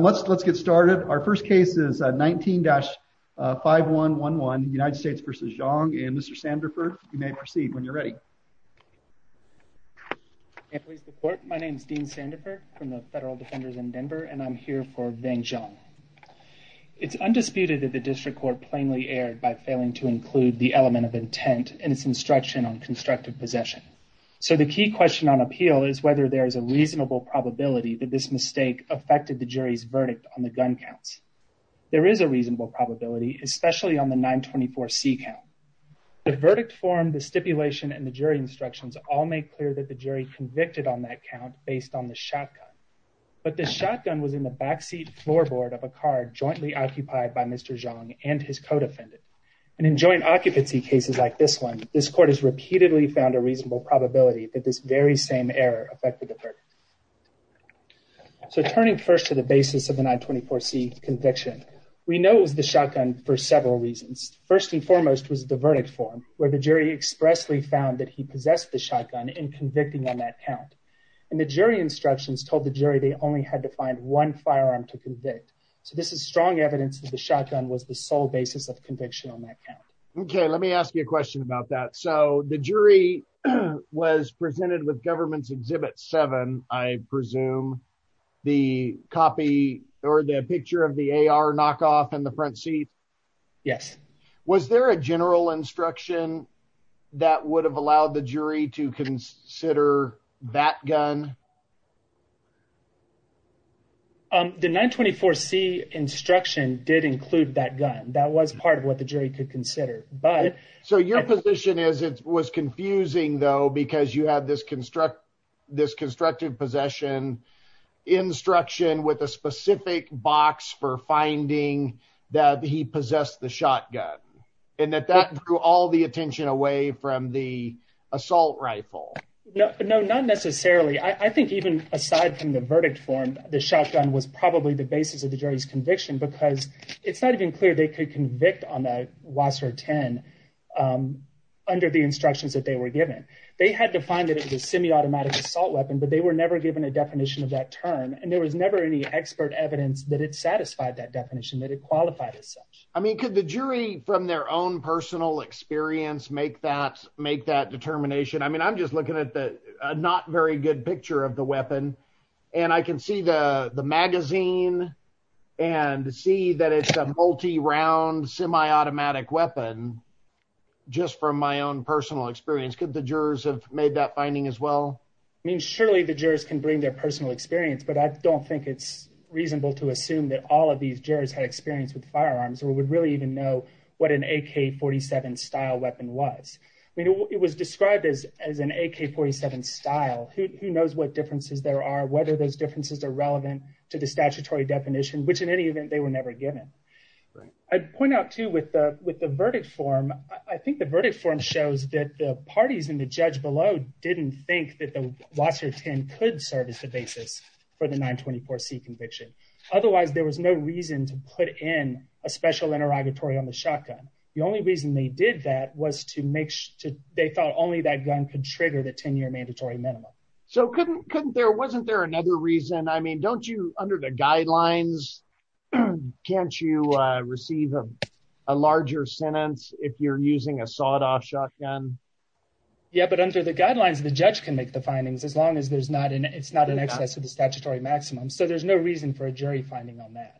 Let's get started. Our first case is 19-5111, United States v. Xiong, and Mr. Sandifer, you may proceed when you're ready. My name is Dean Sandifer from the Federal Defenders in Denver, and I'm here for Vang Xiong. It's undisputed that the District Court plainly erred by failing to include the element of intent in its instruction on constructive possession. So the key question on appeal is whether there is a reasonable probability that this mistake affected the jury's verdict on the gun counts. There is a reasonable probability, especially on the 924C count. The verdict form, the stipulation, and the jury instructions all make clear that the jury convicted on that count based on the shotgun. But the shotgun was in the backseat floorboard of a car jointly occupied by Mr. Xiong and his co-defendant. And in joint occupancy cases like this one, this court has repeatedly found a reasonable probability that this very same error affected the verdict. So turning first to the basis of the 924C conviction, we know it was the shotgun for several reasons. First and foremost was the verdict form, where the jury expressly found that he possessed the shotgun in convicting on that count. And the jury instructions told the jury they only had to find one firearm to convict. So this is strong evidence that the shotgun was the sole basis of conviction on that count. Okay, let me ask you a question about that. So the jury was presented with Government's Exhibit 7, I presume, the copy or the picture of the AR knockoff in the front seat? Yes. Was there a general instruction that would have allowed the jury to consider that gun? The 924C instruction did include that gun. That was part of what the jury could consider. So your position is it was confusing, though, because you had this constructive possession instruction with a specific box for finding that he possessed the shotgun. And that that drew all the attention away from the assault rifle. No, not necessarily. I think even aside from the verdict form, the shotgun was probably the basis of the jury's conviction, because it's not even clear they could convict on a Wasser 10 under the instructions that they were given. They had to find that it was a semi-automatic assault weapon, but they were never given a definition of that term. And there was never any expert evidence that it satisfied that definition, that it qualified as such. I mean, could the jury, from their own personal experience, make that determination? I mean, I'm just looking at the not very good picture of the weapon, and I can see the magazine and see that it's a multi-round semi-automatic weapon, just from my own personal experience. Could the jurors have made that finding as well? I mean, surely the jurors can bring their personal experience, but I don't think it's reasonable to assume that all of these jurors had experience with firearms or would really even know what an AK-47 style weapon was. I mean, it was described as an AK-47 style. Who knows what differences there are, whether those differences are relevant to the statutory definition, which in any event, they were never given. I'd point out, too, with the verdict form, I think the verdict form shows that the parties in the judge below didn't think that the Wasser 10 could serve as the basis for the 924C conviction. Otherwise, there was no reason to put in a special interrogatory on the shotgun. The only reason they did that was they thought only that gun could trigger the 10-year mandatory minimum. So wasn't there another reason? I mean, don't you, under the guidelines, can't you receive a larger sentence if you're using a sawed-off shotgun? Yeah, but under the guidelines, the judge can make the findings as long as it's not in excess of the statutory maximum. So there's no reason for a jury finding on that.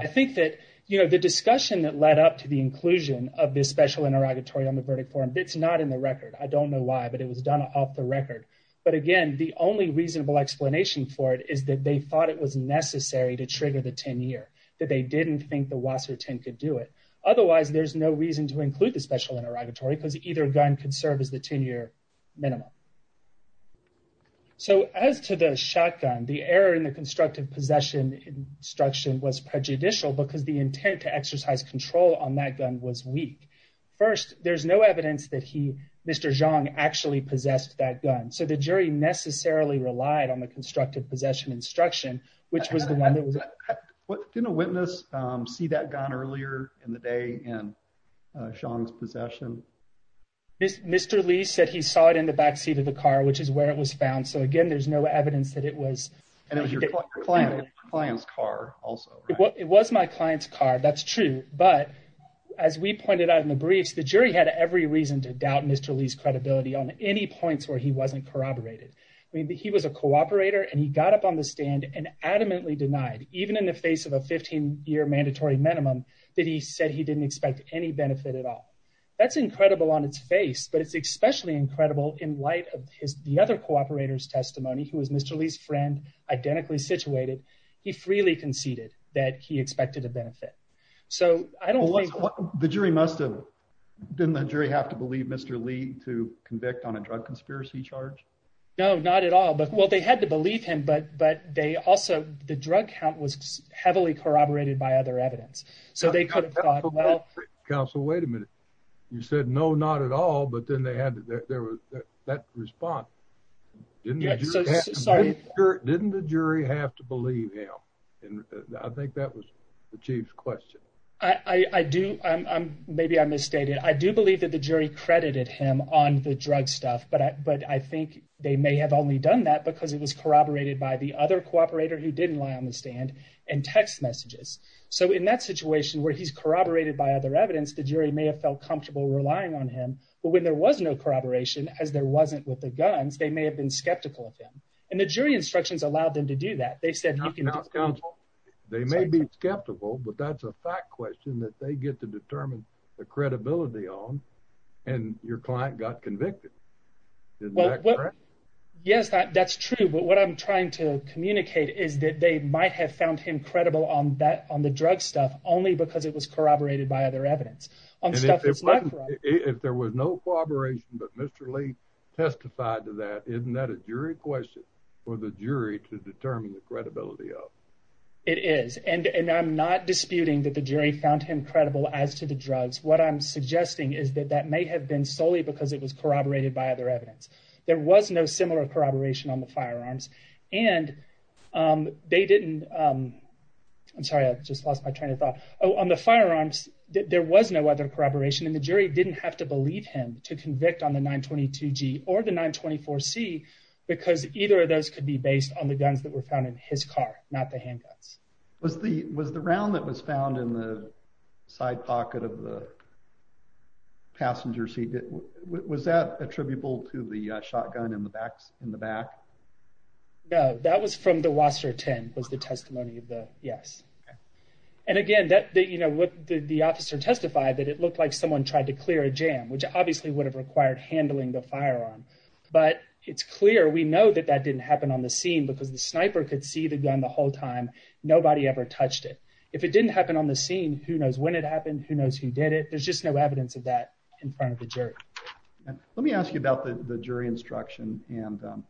I think that the discussion that led up to the inclusion of this special interrogatory on the verdict form, it's not in the record. I don't know why, but it was done off the record. But again, the only reasonable explanation for it is that they thought it was necessary to trigger the 10-year, that they didn't think the Wasser 10 could do it. Otherwise, there's no reason to include the special interrogatory because either gun could serve as the 10-year minimum. So as to the shotgun, the error in the constructive possession instruction was prejudicial because the intent to exercise control on that gun was weak. First, there's no evidence that he, Mr. Zhang, actually possessed that gun. So the jury necessarily relied on the constructive possession instruction, which was the one that was— Didn't a witness see that gun earlier in the day in Zhang's possession? Mr. Li said he saw it in the backseat of the car, which is where it was found. So again, there's no evidence that it was— And it was your client's car also. It was my client's car. That's true. But as we pointed out in the briefs, the jury had every reason to doubt Mr. Li's credibility on any points where he wasn't corroborated. He was a cooperator, and he got up on the stand and adamantly denied, even in the face of a 15-year mandatory minimum, that he said he didn't expect any benefit at all. That's incredible on its face, but it's especially incredible in light of the other cooperator's testimony, who was Mr. Li's friend, identically situated. He freely conceded that he expected a benefit. So I don't think— The jury must have—didn't the jury have to believe Mr. Li to convict on a drug conspiracy charge? No, not at all. Well, they had to believe him, but they also—the drug count was heavily corroborated by other evidence. So they could have thought, well— Counsel, wait a minute. You said no, not at all, but then they had—there was that response. Didn't the jury have to believe him? I think that was the chief's question. I do—maybe I misstated. I do believe that the jury credited him on the drug stuff, but I think they may have only done that because it was corroborated by the other cooperator, who didn't lie on the stand, and text messages. So in that situation, where he's corroborated by other evidence, the jury may have felt comfortable relying on him. But when there was no corroboration, as there wasn't with the guns, they may have been skeptical of him. And the jury instructions allowed them to do that. They said he can— Now, Counsel, they may be skeptical, but that's a fact question that they get to determine the credibility on, and your client got convicted. Isn't that correct? Yes, that's true, but what I'm trying to communicate is that they might have found him credible on the drug stuff only because it was corroborated by other evidence. And if there was no corroboration, but Mr. Lee testified to that, isn't that a jury question for the jury to determine the credibility of? It is, and I'm not disputing that the jury found him credible as to the drugs. What I'm suggesting is that that may have been solely because it was corroborated by other evidence. There was no similar corroboration on the firearms, and they didn't—I'm sorry, I just lost my train of thought. On the firearms, there was no other corroboration, and the jury didn't have to believe him to convict on the 922G or the 924C, because either of those could be based on the guns that were found in his car, not the handguns. Was the round that was found in the side pocket of the passenger seat, was that attributable to the shotgun in the back? No, that was from the Wasser 10, was the testimony of the—yes. And again, the officer testified that it looked like someone tried to clear a jam, which obviously would have required handling the firearm. But it's clear we know that that didn't happen on the scene, because the sniper could see the gun the whole time. Nobody ever touched it. If it didn't happen on the scene, who knows when it happened, who knows who did it? There's just no evidence of that in front of the jury. Let me ask you about the jury instruction, and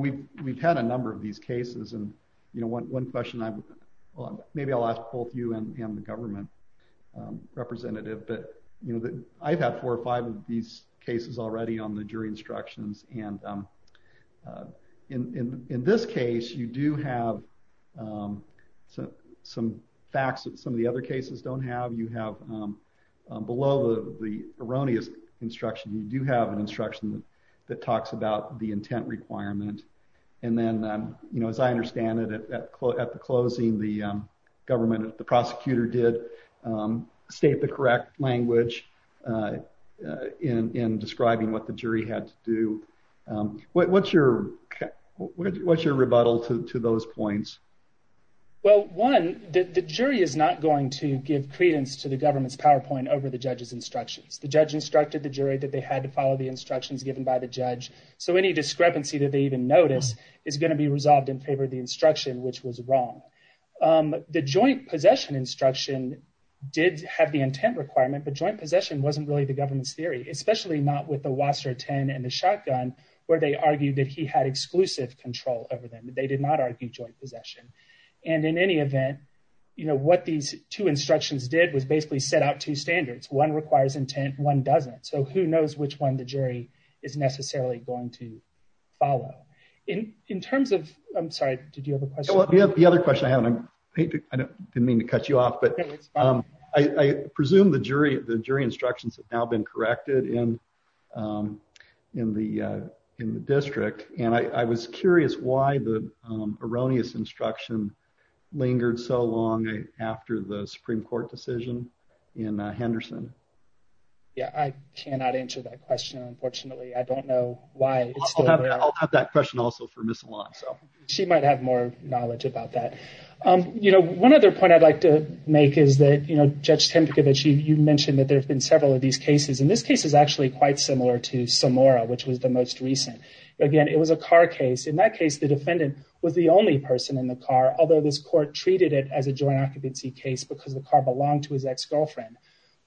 we've had a number of these cases. And one question I've—well, maybe I'll ask both you and the government representative, but I've had four or five of these cases already on the jury instructions. And in this case, you do have some facts that some of the other cases don't have. You have—below the erroneous instruction, you do have an instruction that talks about the intent requirement. And then, you know, as I understand it, at the closing, the government, the prosecutor did state the correct language in describing what the jury had to do. What's your—what's your rebuttal to those points? Well, one, the jury is not going to give credence to the government's PowerPoint over the judge's instructions. The judge instructed the jury that they had to follow the instructions given by the judge. So any discrepancy that they even notice is going to be resolved in favor of the instruction, which was wrong. The joint possession instruction did have the intent requirement, but joint possession wasn't really the government's theory, especially not with the Wasser 10 and the shotgun, where they argued that he had exclusive control over them. They did not argue joint possession. And in any event, you know, what these two instructions did was basically set out two standards. One requires intent, one doesn't. So who knows which one the jury is necessarily going to follow. In terms of—I'm sorry, did you have a question? The other question I have, and I didn't mean to cut you off, but I presume the jury instructions have now been corrected in the district. And I was curious why the erroneous instruction lingered so long after the Supreme Court decision in Henderson. Yeah, I cannot answer that question. Unfortunately, I don't know why. I'll have that question also for Ms. Alon. She might have more knowledge about that. You know, one other point I'd like to make is that, you know, Judge Tempekovich, you mentioned that there have been several of these cases. And this case is actually quite similar to Samora, which was the most recent. Again, it was a car case. In that case, the defendant was the only person in the car, although this court treated it as a joint occupancy case because the car belonged to his ex-girlfriend.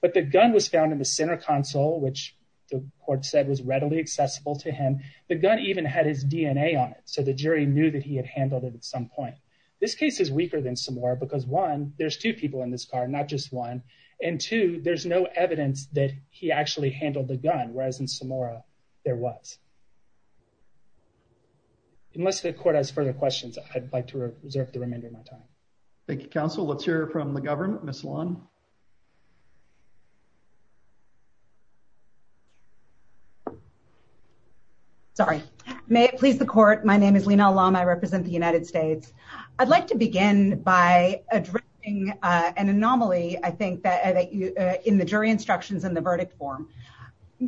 But the gun was found in the center console, which the court said was readily accessible to him. The gun even had his DNA on it, so the jury knew that he had handled it at some point. This case is weaker than Samora because, one, there's two people in this car, not just one. And, two, there's no evidence that he actually handled the gun, whereas in Samora, there was. Unless the court has further questions, I'd like to reserve the remainder of my time. Thank you, counsel. Let's hear from the government. Ms. Alon? Sorry. May it please the court, my name is Lina Alam. I represent the United States. I'd like to begin by addressing an anomaly, I think, in the jury instructions in the verdict form.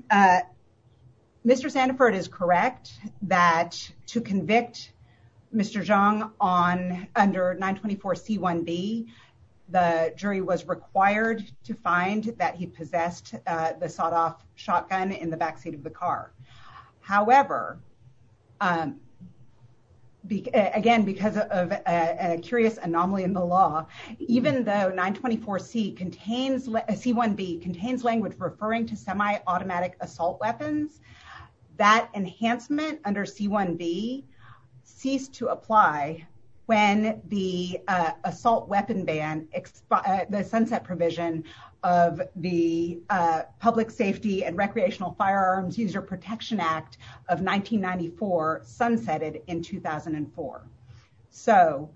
Mr. Sanford is correct that to convict Mr. Zhang under 924C1B, the jury was required to find that he possessed the sawed-off shotgun in the backseat of the car. However, again, because of a curious anomaly in the law, even though 924C1B contains language referring to semi-automatic assault weapons, that enhancement under 924C1B ceased to apply when the sunset provision of the Public Safety and Recreational Firearms User Protection Act of 1994 sunsetted in 2004. So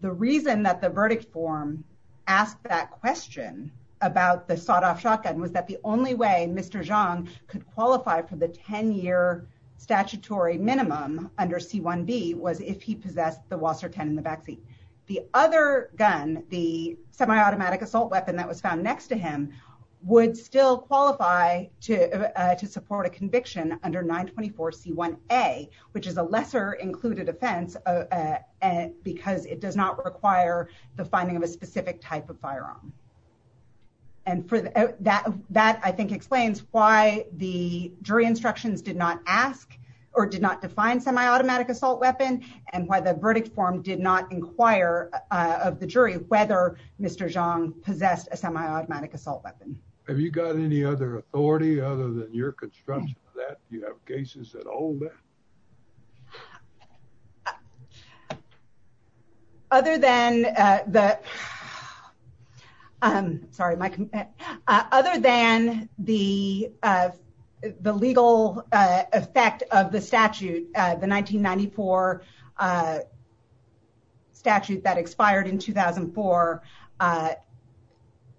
the reason that the verdict form asked that question about the sawed-off shotgun was that the only way Mr. Zhang could qualify for the 10-year statutory minimum under C1B was if he possessed the Wasser 10 in the backseat. The other gun, the semi-automatic assault weapon that was found next to him, would still qualify to support a conviction under 924C1A, which is a lesser included offense because it does not require the finding of a specific type of firearm. And that, I think, explains why the jury instructions did not ask or did not define semi-automatic assault weapon and why the verdict form did not inquire of the jury whether Mr. Zhang possessed a semi-automatic assault weapon. Have you got any other authority other than your construction of that? Do you have cases that hold that? Other than the legal effect of the statute, the 1994 statute that expired in 2004,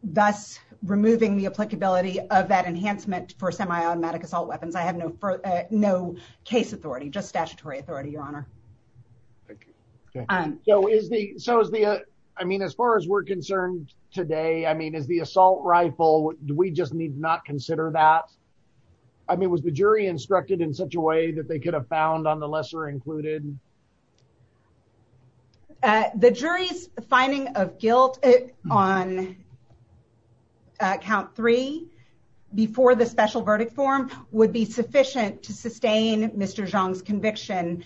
thus removing the applicability of that enhancement for semi-automatic assault weapons. I have no case authority, just statutory authority, Your Honor. So as far as we're concerned today, is the assault rifle, do we just need not consider that? I mean, was the jury instructed in such a way that they could have found on the lesser included? The jury's finding of guilt on count three before the special verdict form would be sufficient to sustain Mr. Zhang's conviction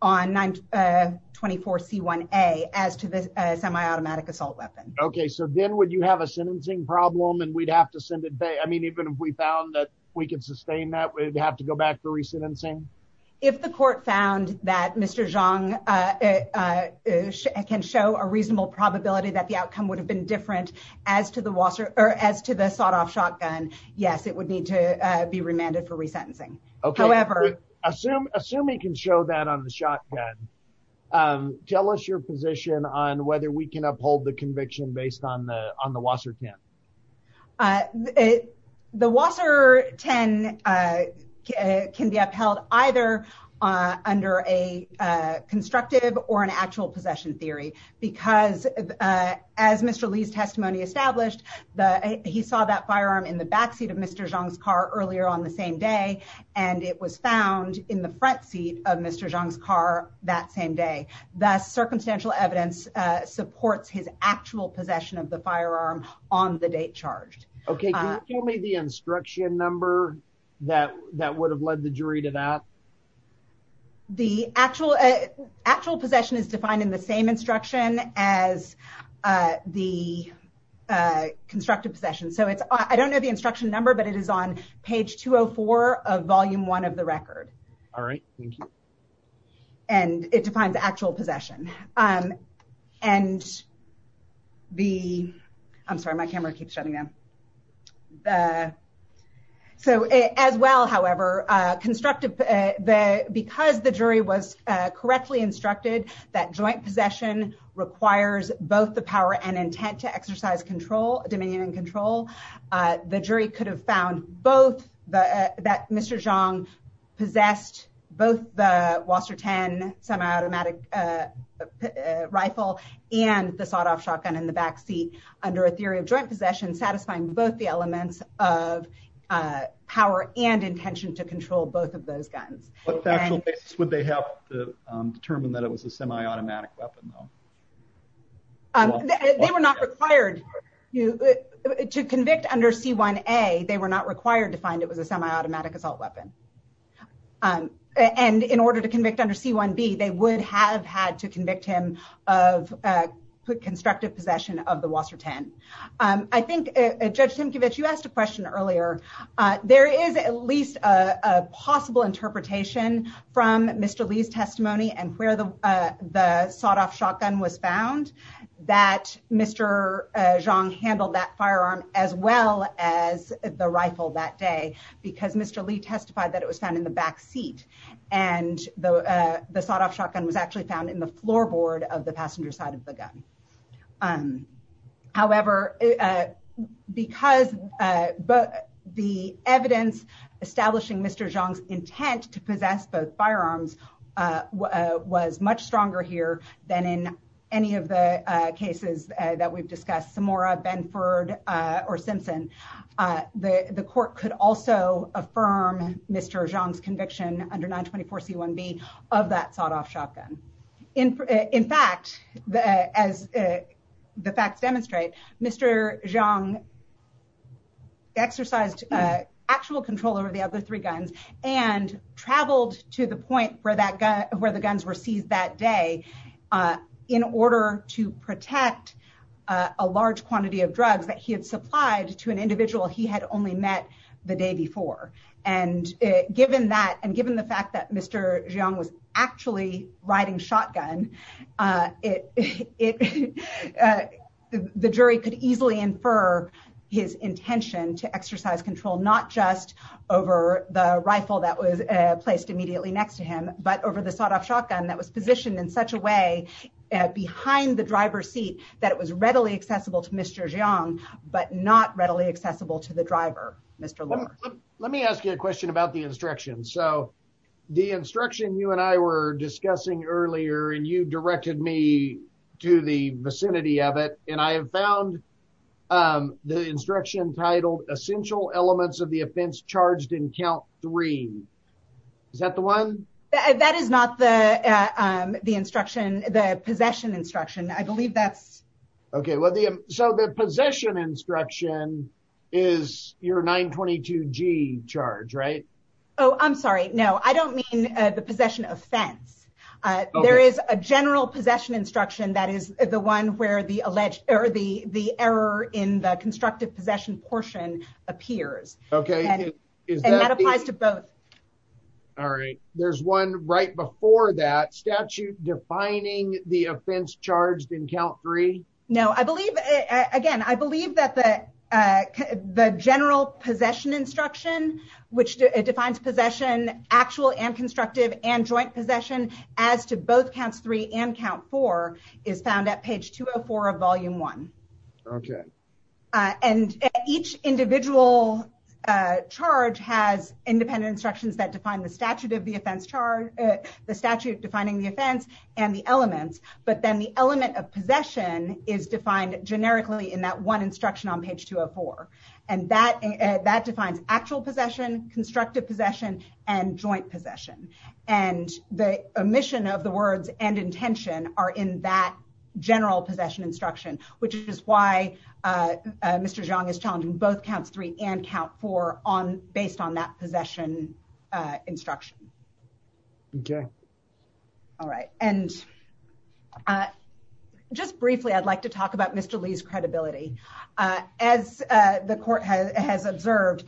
on 924C1A as to the semi-automatic assault weapon. Okay, so then would you have a sentencing problem and we'd have to send it back? I mean, even if we found that we could sustain that, we'd have to go back for re-sentencing? If the court found that Mr. Zhang can show a reasonable probability that the outcome would have been different as to the sawed-off shotgun, yes, it would need to be remanded for re-sentencing. Assuming he can show that on the shotgun, tell us your position on whether we can uphold the conviction based on the Wasser 10. The Wasser 10 can be upheld either under a constructive or an actual possession theory, because as Mr. Li's testimony established, he saw that firearm in the backseat of Mr. Zhang's car earlier on the same day, and it was found in the front seat of Mr. Zhang's car that same day. Thus, circumstantial evidence supports his actual possession of the firearm on the date charged. Okay, can you tell me the instruction number that would have led the jury to that? The actual possession is defined in the same instruction as the constructive possession, so I don't know the instruction number, but it is on page 204 of Volume 1 of the record. All right, thank you. And it defines actual possession. And the, I'm sorry, my camera keeps shutting down. So as well, however, because the jury was correctly instructed that joint possession requires both the power and intent to exercise dominion and control, the jury could have found both that Mr. Zhang possessed both the Wasser 10 semi-automatic rifle and the sawed-off shotgun in the backseat under a theory of joint possession, satisfying both the elements of power and intention to control both of those guns. What factual basis would they have to determine that it was a semi-automatic weapon, though? They were not required to convict under C1A, they were not required to find it was a semi-automatic assault weapon. And in order to convict under C1B, they would have had to convict him of constructive possession of the Wasser 10. I think Judge Timkiewicz, you asked a question earlier. There is at least a possible interpretation from Mr. Lee's testimony and where the sawed-off shotgun was found that Mr. Zhang handled that firearm as well as the rifle that day because Mr. Lee testified that it was found in the backseat. And the sawed-off shotgun was actually found in the floorboard of the passenger side of the gun. However, because the evidence establishing Mr. Zhang's intent to possess both firearms was much stronger here than in any of the cases that we've discussed, Samora, Benford, or Simpson, the court could also affirm Mr. Zhang's conviction under 924 C1B of that sawed-off shotgun. In fact, as the facts demonstrate, Mr. Zhang exercised actual control over the other three guns and traveled to the point where the guns were seized that day in order to protect a large quantity of drugs that he had supplied to an individual he had only met the day before. And given that, and given the fact that Mr. Zhang was actually riding shotgun, the jury could easily infer his intention to exercise control not just over the rifle that was placed immediately next to him, but over the sawed-off shotgun that was positioned in such a way behind the driver's seat that it was readily accessible to Mr. Zhang, but not readily accessible to the driver, Mr. Lohr. Let me ask you a question about the instruction. So, the instruction you and I were discussing earlier, and you directed me to the vicinity of it, and I have found the instruction titled, Essential Elements of the Offense Charged in Count Three. Is that the one? That is not the instruction, the possession instruction. I believe that's... Okay, so the possession instruction is your 922G charge, right? Oh, I'm sorry. No, I don't mean the possession offense. There is a general possession instruction that is the one where the error in the constructive possession portion appears. And that applies to both. All right. There's one right before that. Statute defining the offense charged in count three? I believe, again, I believe that the general possession instruction, which defines possession, actual and constructive, and joint possession, as to both counts three and count four, is found at page 204 of volume one. Okay. And each individual charge has independent instructions that define the statute of the offense charge, the statute defining the offense, and the elements. But then the element of possession is defined generically in that one instruction on page 204. And that defines actual possession, constructive possession, and joint possession. And the omission of the words and intention are in that general possession instruction, which is why Mr. Zhang is challenging both counts three and count four based on that possession instruction. Okay. All right. And just briefly, I'd like to talk about Mr. Li's credibility. As the court has observed,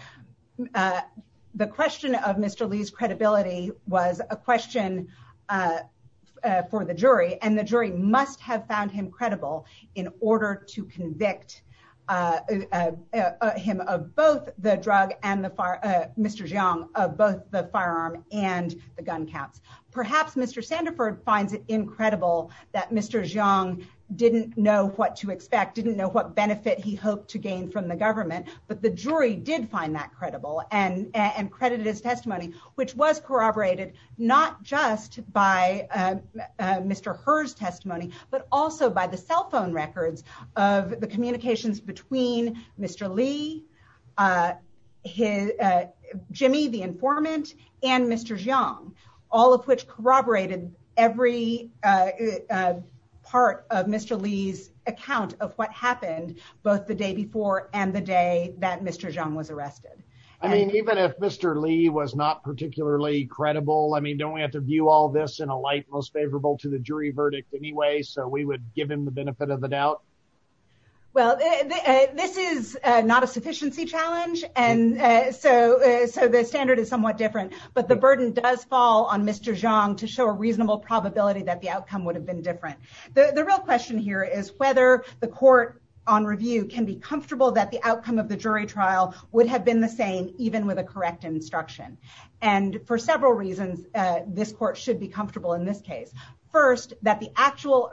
the question of Mr. Li's credibility was a question for the jury. And the jury must have found him credible in order to convict him of both the drug and Mr. Zhang of both the firearm and the gun counts. Perhaps Mr. Sandiford finds it incredible that Mr. Zhang didn't know what to expect, didn't know what benefit he hoped to gain from the government. But the jury did find that credible and credited his testimony, which was corroborated, not just by Mr. Herr's testimony, but also by the cell phone records of the communications between Mr. Li, Jimmy the informant, and Mr. Zhang. All of which corroborated every part of Mr. Li's account of what happened both the day before and the day that Mr. Zhang was arrested. I mean, even if Mr. Li was not particularly credible, I mean, don't we have to view all this in a light most favorable to the jury verdict anyway, so we would give him the benefit of the doubt? Well, this is not a sufficiency challenge, and so the standard is somewhat different, but the burden does fall on Mr. Zhang to show a reasonable probability that the outcome would have been different. The real question here is whether the court on review can be comfortable that the outcome of the jury trial would have been the same, even with a correct instruction. And for several reasons, this court should be comfortable in this case. First, that the actual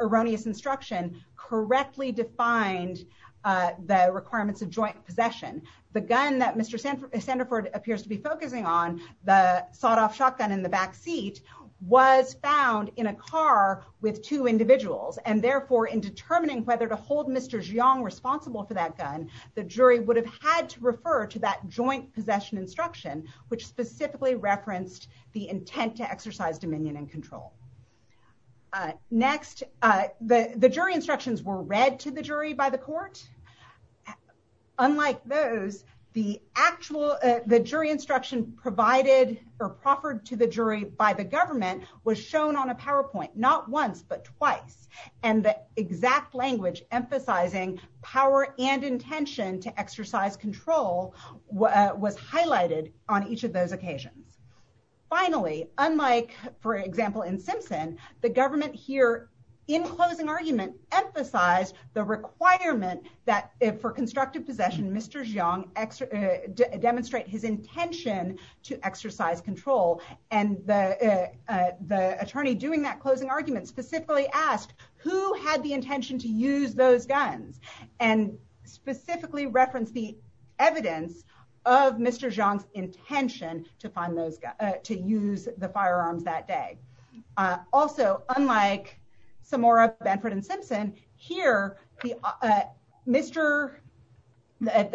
erroneous instruction correctly defined the requirements of joint possession. The gun that Mr. Sandford appears to be focusing on the sawed off shotgun in the back seat was found in a car with two individuals and therefore in determining whether to hold Mr. Zhang responsible for that gun. The jury would have had to refer to that joint possession instruction, which specifically referenced the intent to exercise dominion and control. Next, the jury instructions were read to the jury by the court. Unlike those, the actual the jury instruction provided or proffered to the jury by the government was shown on a PowerPoint, not once but twice, and the exact language emphasizing power and intention to exercise control was highlighted on each of those occasions. Finally, unlike, for example, in Simpson, the government here in closing argument emphasized the requirement that for constructive possession Mr. Zhang demonstrate his intention to exercise control and the attorney doing that closing argument specifically asked who had the intention to use those guns and specifically reference the evidence of Mr. Zhang's intention to use the firearms that day. Also, unlike Samora, Benford, and Simpson, here, the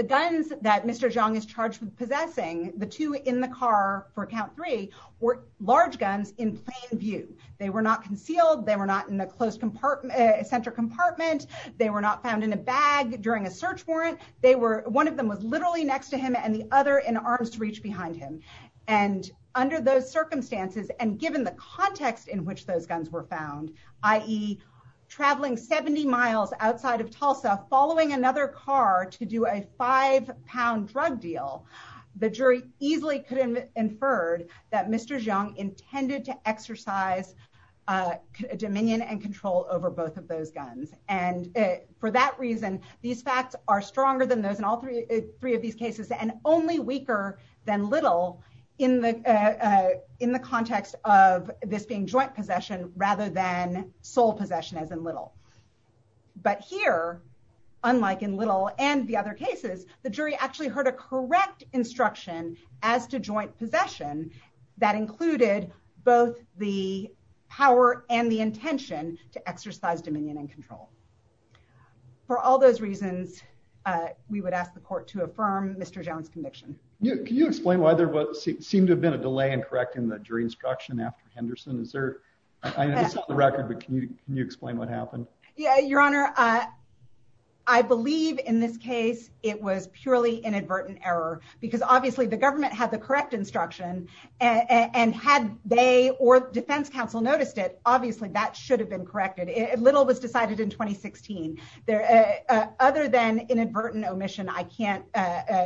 guns that Mr. Zhang is charged with possessing, the two in the car for count three, were large guns in plain view. They were not concealed, they were not in a closed center compartment, they were not found in a bag during a search warrant, one of them was literally next to him and the other in arms reach behind him. Under those circumstances, and given the context in which those guns were found, i.e., traveling 70 miles outside of Tulsa following another car to do a five pound drug deal, the jury easily could infer that Mr. Zhang intended to exercise dominion and control over both of those guns. For that reason, these facts are stronger than those in all three of these cases and only weaker than Little in the context of this being joint possession rather than sole possession as in Little. But here, unlike in Little and the other cases, the jury actually heard a correct instruction as to joint possession that included both the power and the intention to exercise dominion and control. For all those reasons, we would ask the court to affirm Mr. Zhang's conviction. Can you explain why there seemed to have been a delay in correcting the jury instruction after Henderson? I know it's not on the record, but can you explain what happened? Your Honor, I believe in this case it was purely inadvertent error, because obviously the government had the correct instruction, and had they or defense counsel noticed it, obviously that should have been corrected. Little was decided in 2016. Other than inadvertent omission, I can't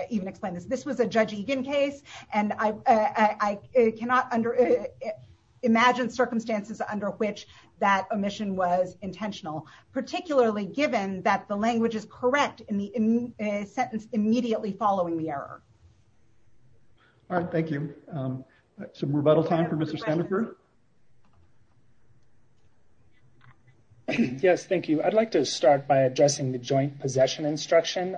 even explain this. This was a Judge Egan case, and I cannot imagine circumstances under which that omission was intentional, particularly given that the language is correct in the sentence immediately following the error. All right, thank you. Some rebuttal time for Mr. Sandifer? Yes, thank you. I'd like to start by addressing the joint possession instruction.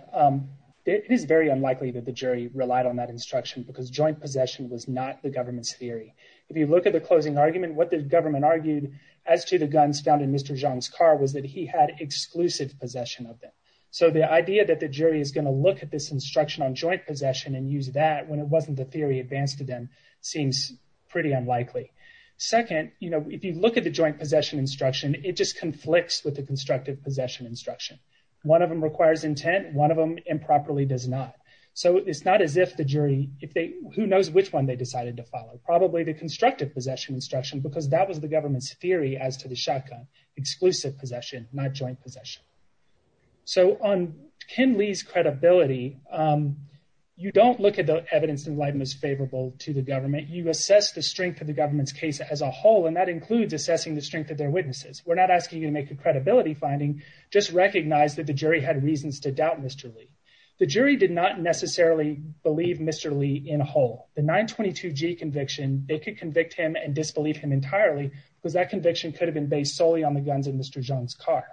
It is very unlikely that the jury relied on that instruction because joint possession was not the government's theory. If you look at the closing argument, what the government argued as to the guns found in Mr. Zhang's car was that he had exclusive possession of them. So the idea that the jury is going to look at this instruction on joint possession and use that when it wasn't the theory advanced to them seems pretty unlikely. Second, if you look at the joint possession instruction, it just conflicts with the constructive possession instruction. One of them requires intent, one of them improperly does not. So it's not as if the jury—who knows which one they decided to follow? Probably the constructive possession instruction, because that was the government's theory as to the shotgun. Exclusive possession, not joint possession. So on Ken Lee's credibility, you don't look at the evidence in light that is favorable to the government. You assess the strength of the government's case as a whole, and that includes assessing the strength of their witnesses. We're not asking you to make a credibility finding. Just recognize that the jury had reasons to doubt Mr. Lee. The jury did not necessarily believe Mr. Lee in whole. The 922G conviction, they could convict him and disbelieve him entirely because that conviction could have been based solely on the guns in Mr. Zhang's car.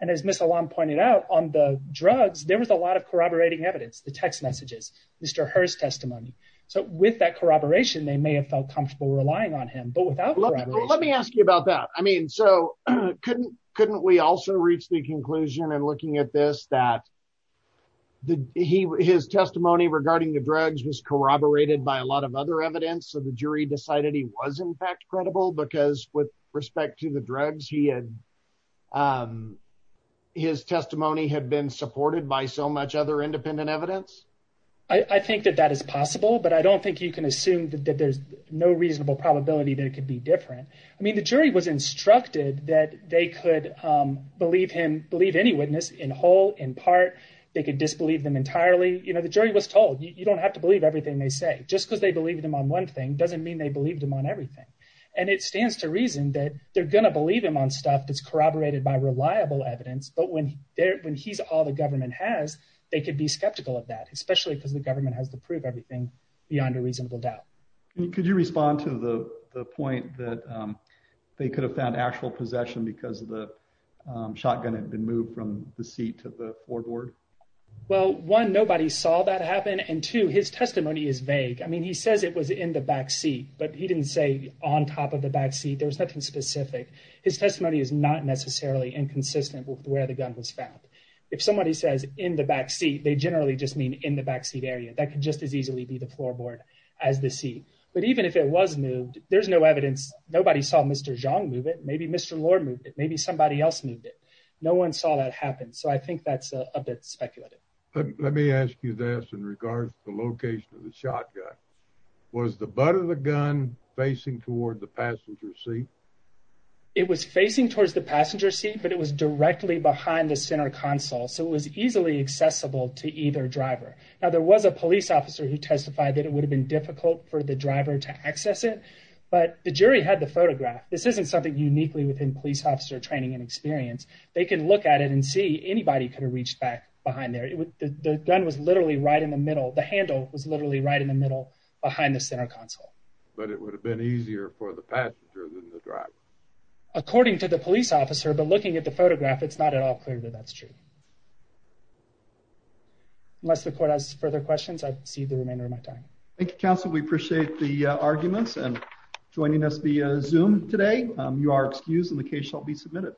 And as Ms. Alam pointed out, on the drugs, there was a lot of corroborating evidence, the text messages, Mr. Herr's testimony. So with that corroboration, they may have felt comfortable relying on him. But without corroboration— Let me ask you about that. I mean, so couldn't we also reach the conclusion in looking at this that his testimony regarding the drugs was corroborated by a lot of other evidence? So the jury decided he was, in fact, credible because with respect to the drugs, his testimony had been supported by so much other independent evidence? I think that that is possible, but I don't think you can assume that there's no reasonable probability that it could be different. I mean, the jury was instructed that they could believe him—believe any witness in whole, in part. They could disbelieve them entirely. You know, the jury was told, you don't have to believe everything they say. Just because they believed him on one thing doesn't mean they believed him on everything. And it stands to reason that they're going to believe him on stuff that's corroborated by reliable evidence. But when he's all the government has, they could be skeptical of that, especially because the government has to prove everything beyond a reasonable doubt. Could you respond to the point that they could have found actual possession because the shotgun had been moved from the seat to the foreboard? Well, one, nobody saw that happen, and two, his testimony is vague. I mean, he says it was in the backseat, but he didn't say on top of the backseat. There was nothing specific. His testimony is not necessarily inconsistent with where the gun was found. If somebody says in the backseat, they generally just mean in the backseat area. That could just as easily be the floorboard as the seat. But even if it was moved, there's no evidence. Nobody saw Mr. Zhang move it. Maybe Mr. Lord moved it. Maybe somebody else moved it. No one saw that happen. So I think that's a bit speculative. Let me ask you this in regards to the location of the shotgun. Was the butt of the gun facing toward the passenger seat? It was facing towards the passenger seat, but it was directly behind the center console, so it was easily accessible to either driver. Now, there was a police officer who testified that it would have been difficult for the driver to access it, but the jury had the photograph. This isn't something uniquely within police officer training and experience. They can look at it and see anybody could have reached back behind there. The gun was literally right in the middle. The handle was literally right in the middle behind the center console. But it would have been easier for the passenger than the driver? According to the police officer, but looking at the photograph, it's not at all clear that that's true. Unless the court has further questions, I've exceeded the remainder of my time. Thank you, counsel. We appreciate the arguments. And joining us via Zoom today, you are excused and the case shall be submitted.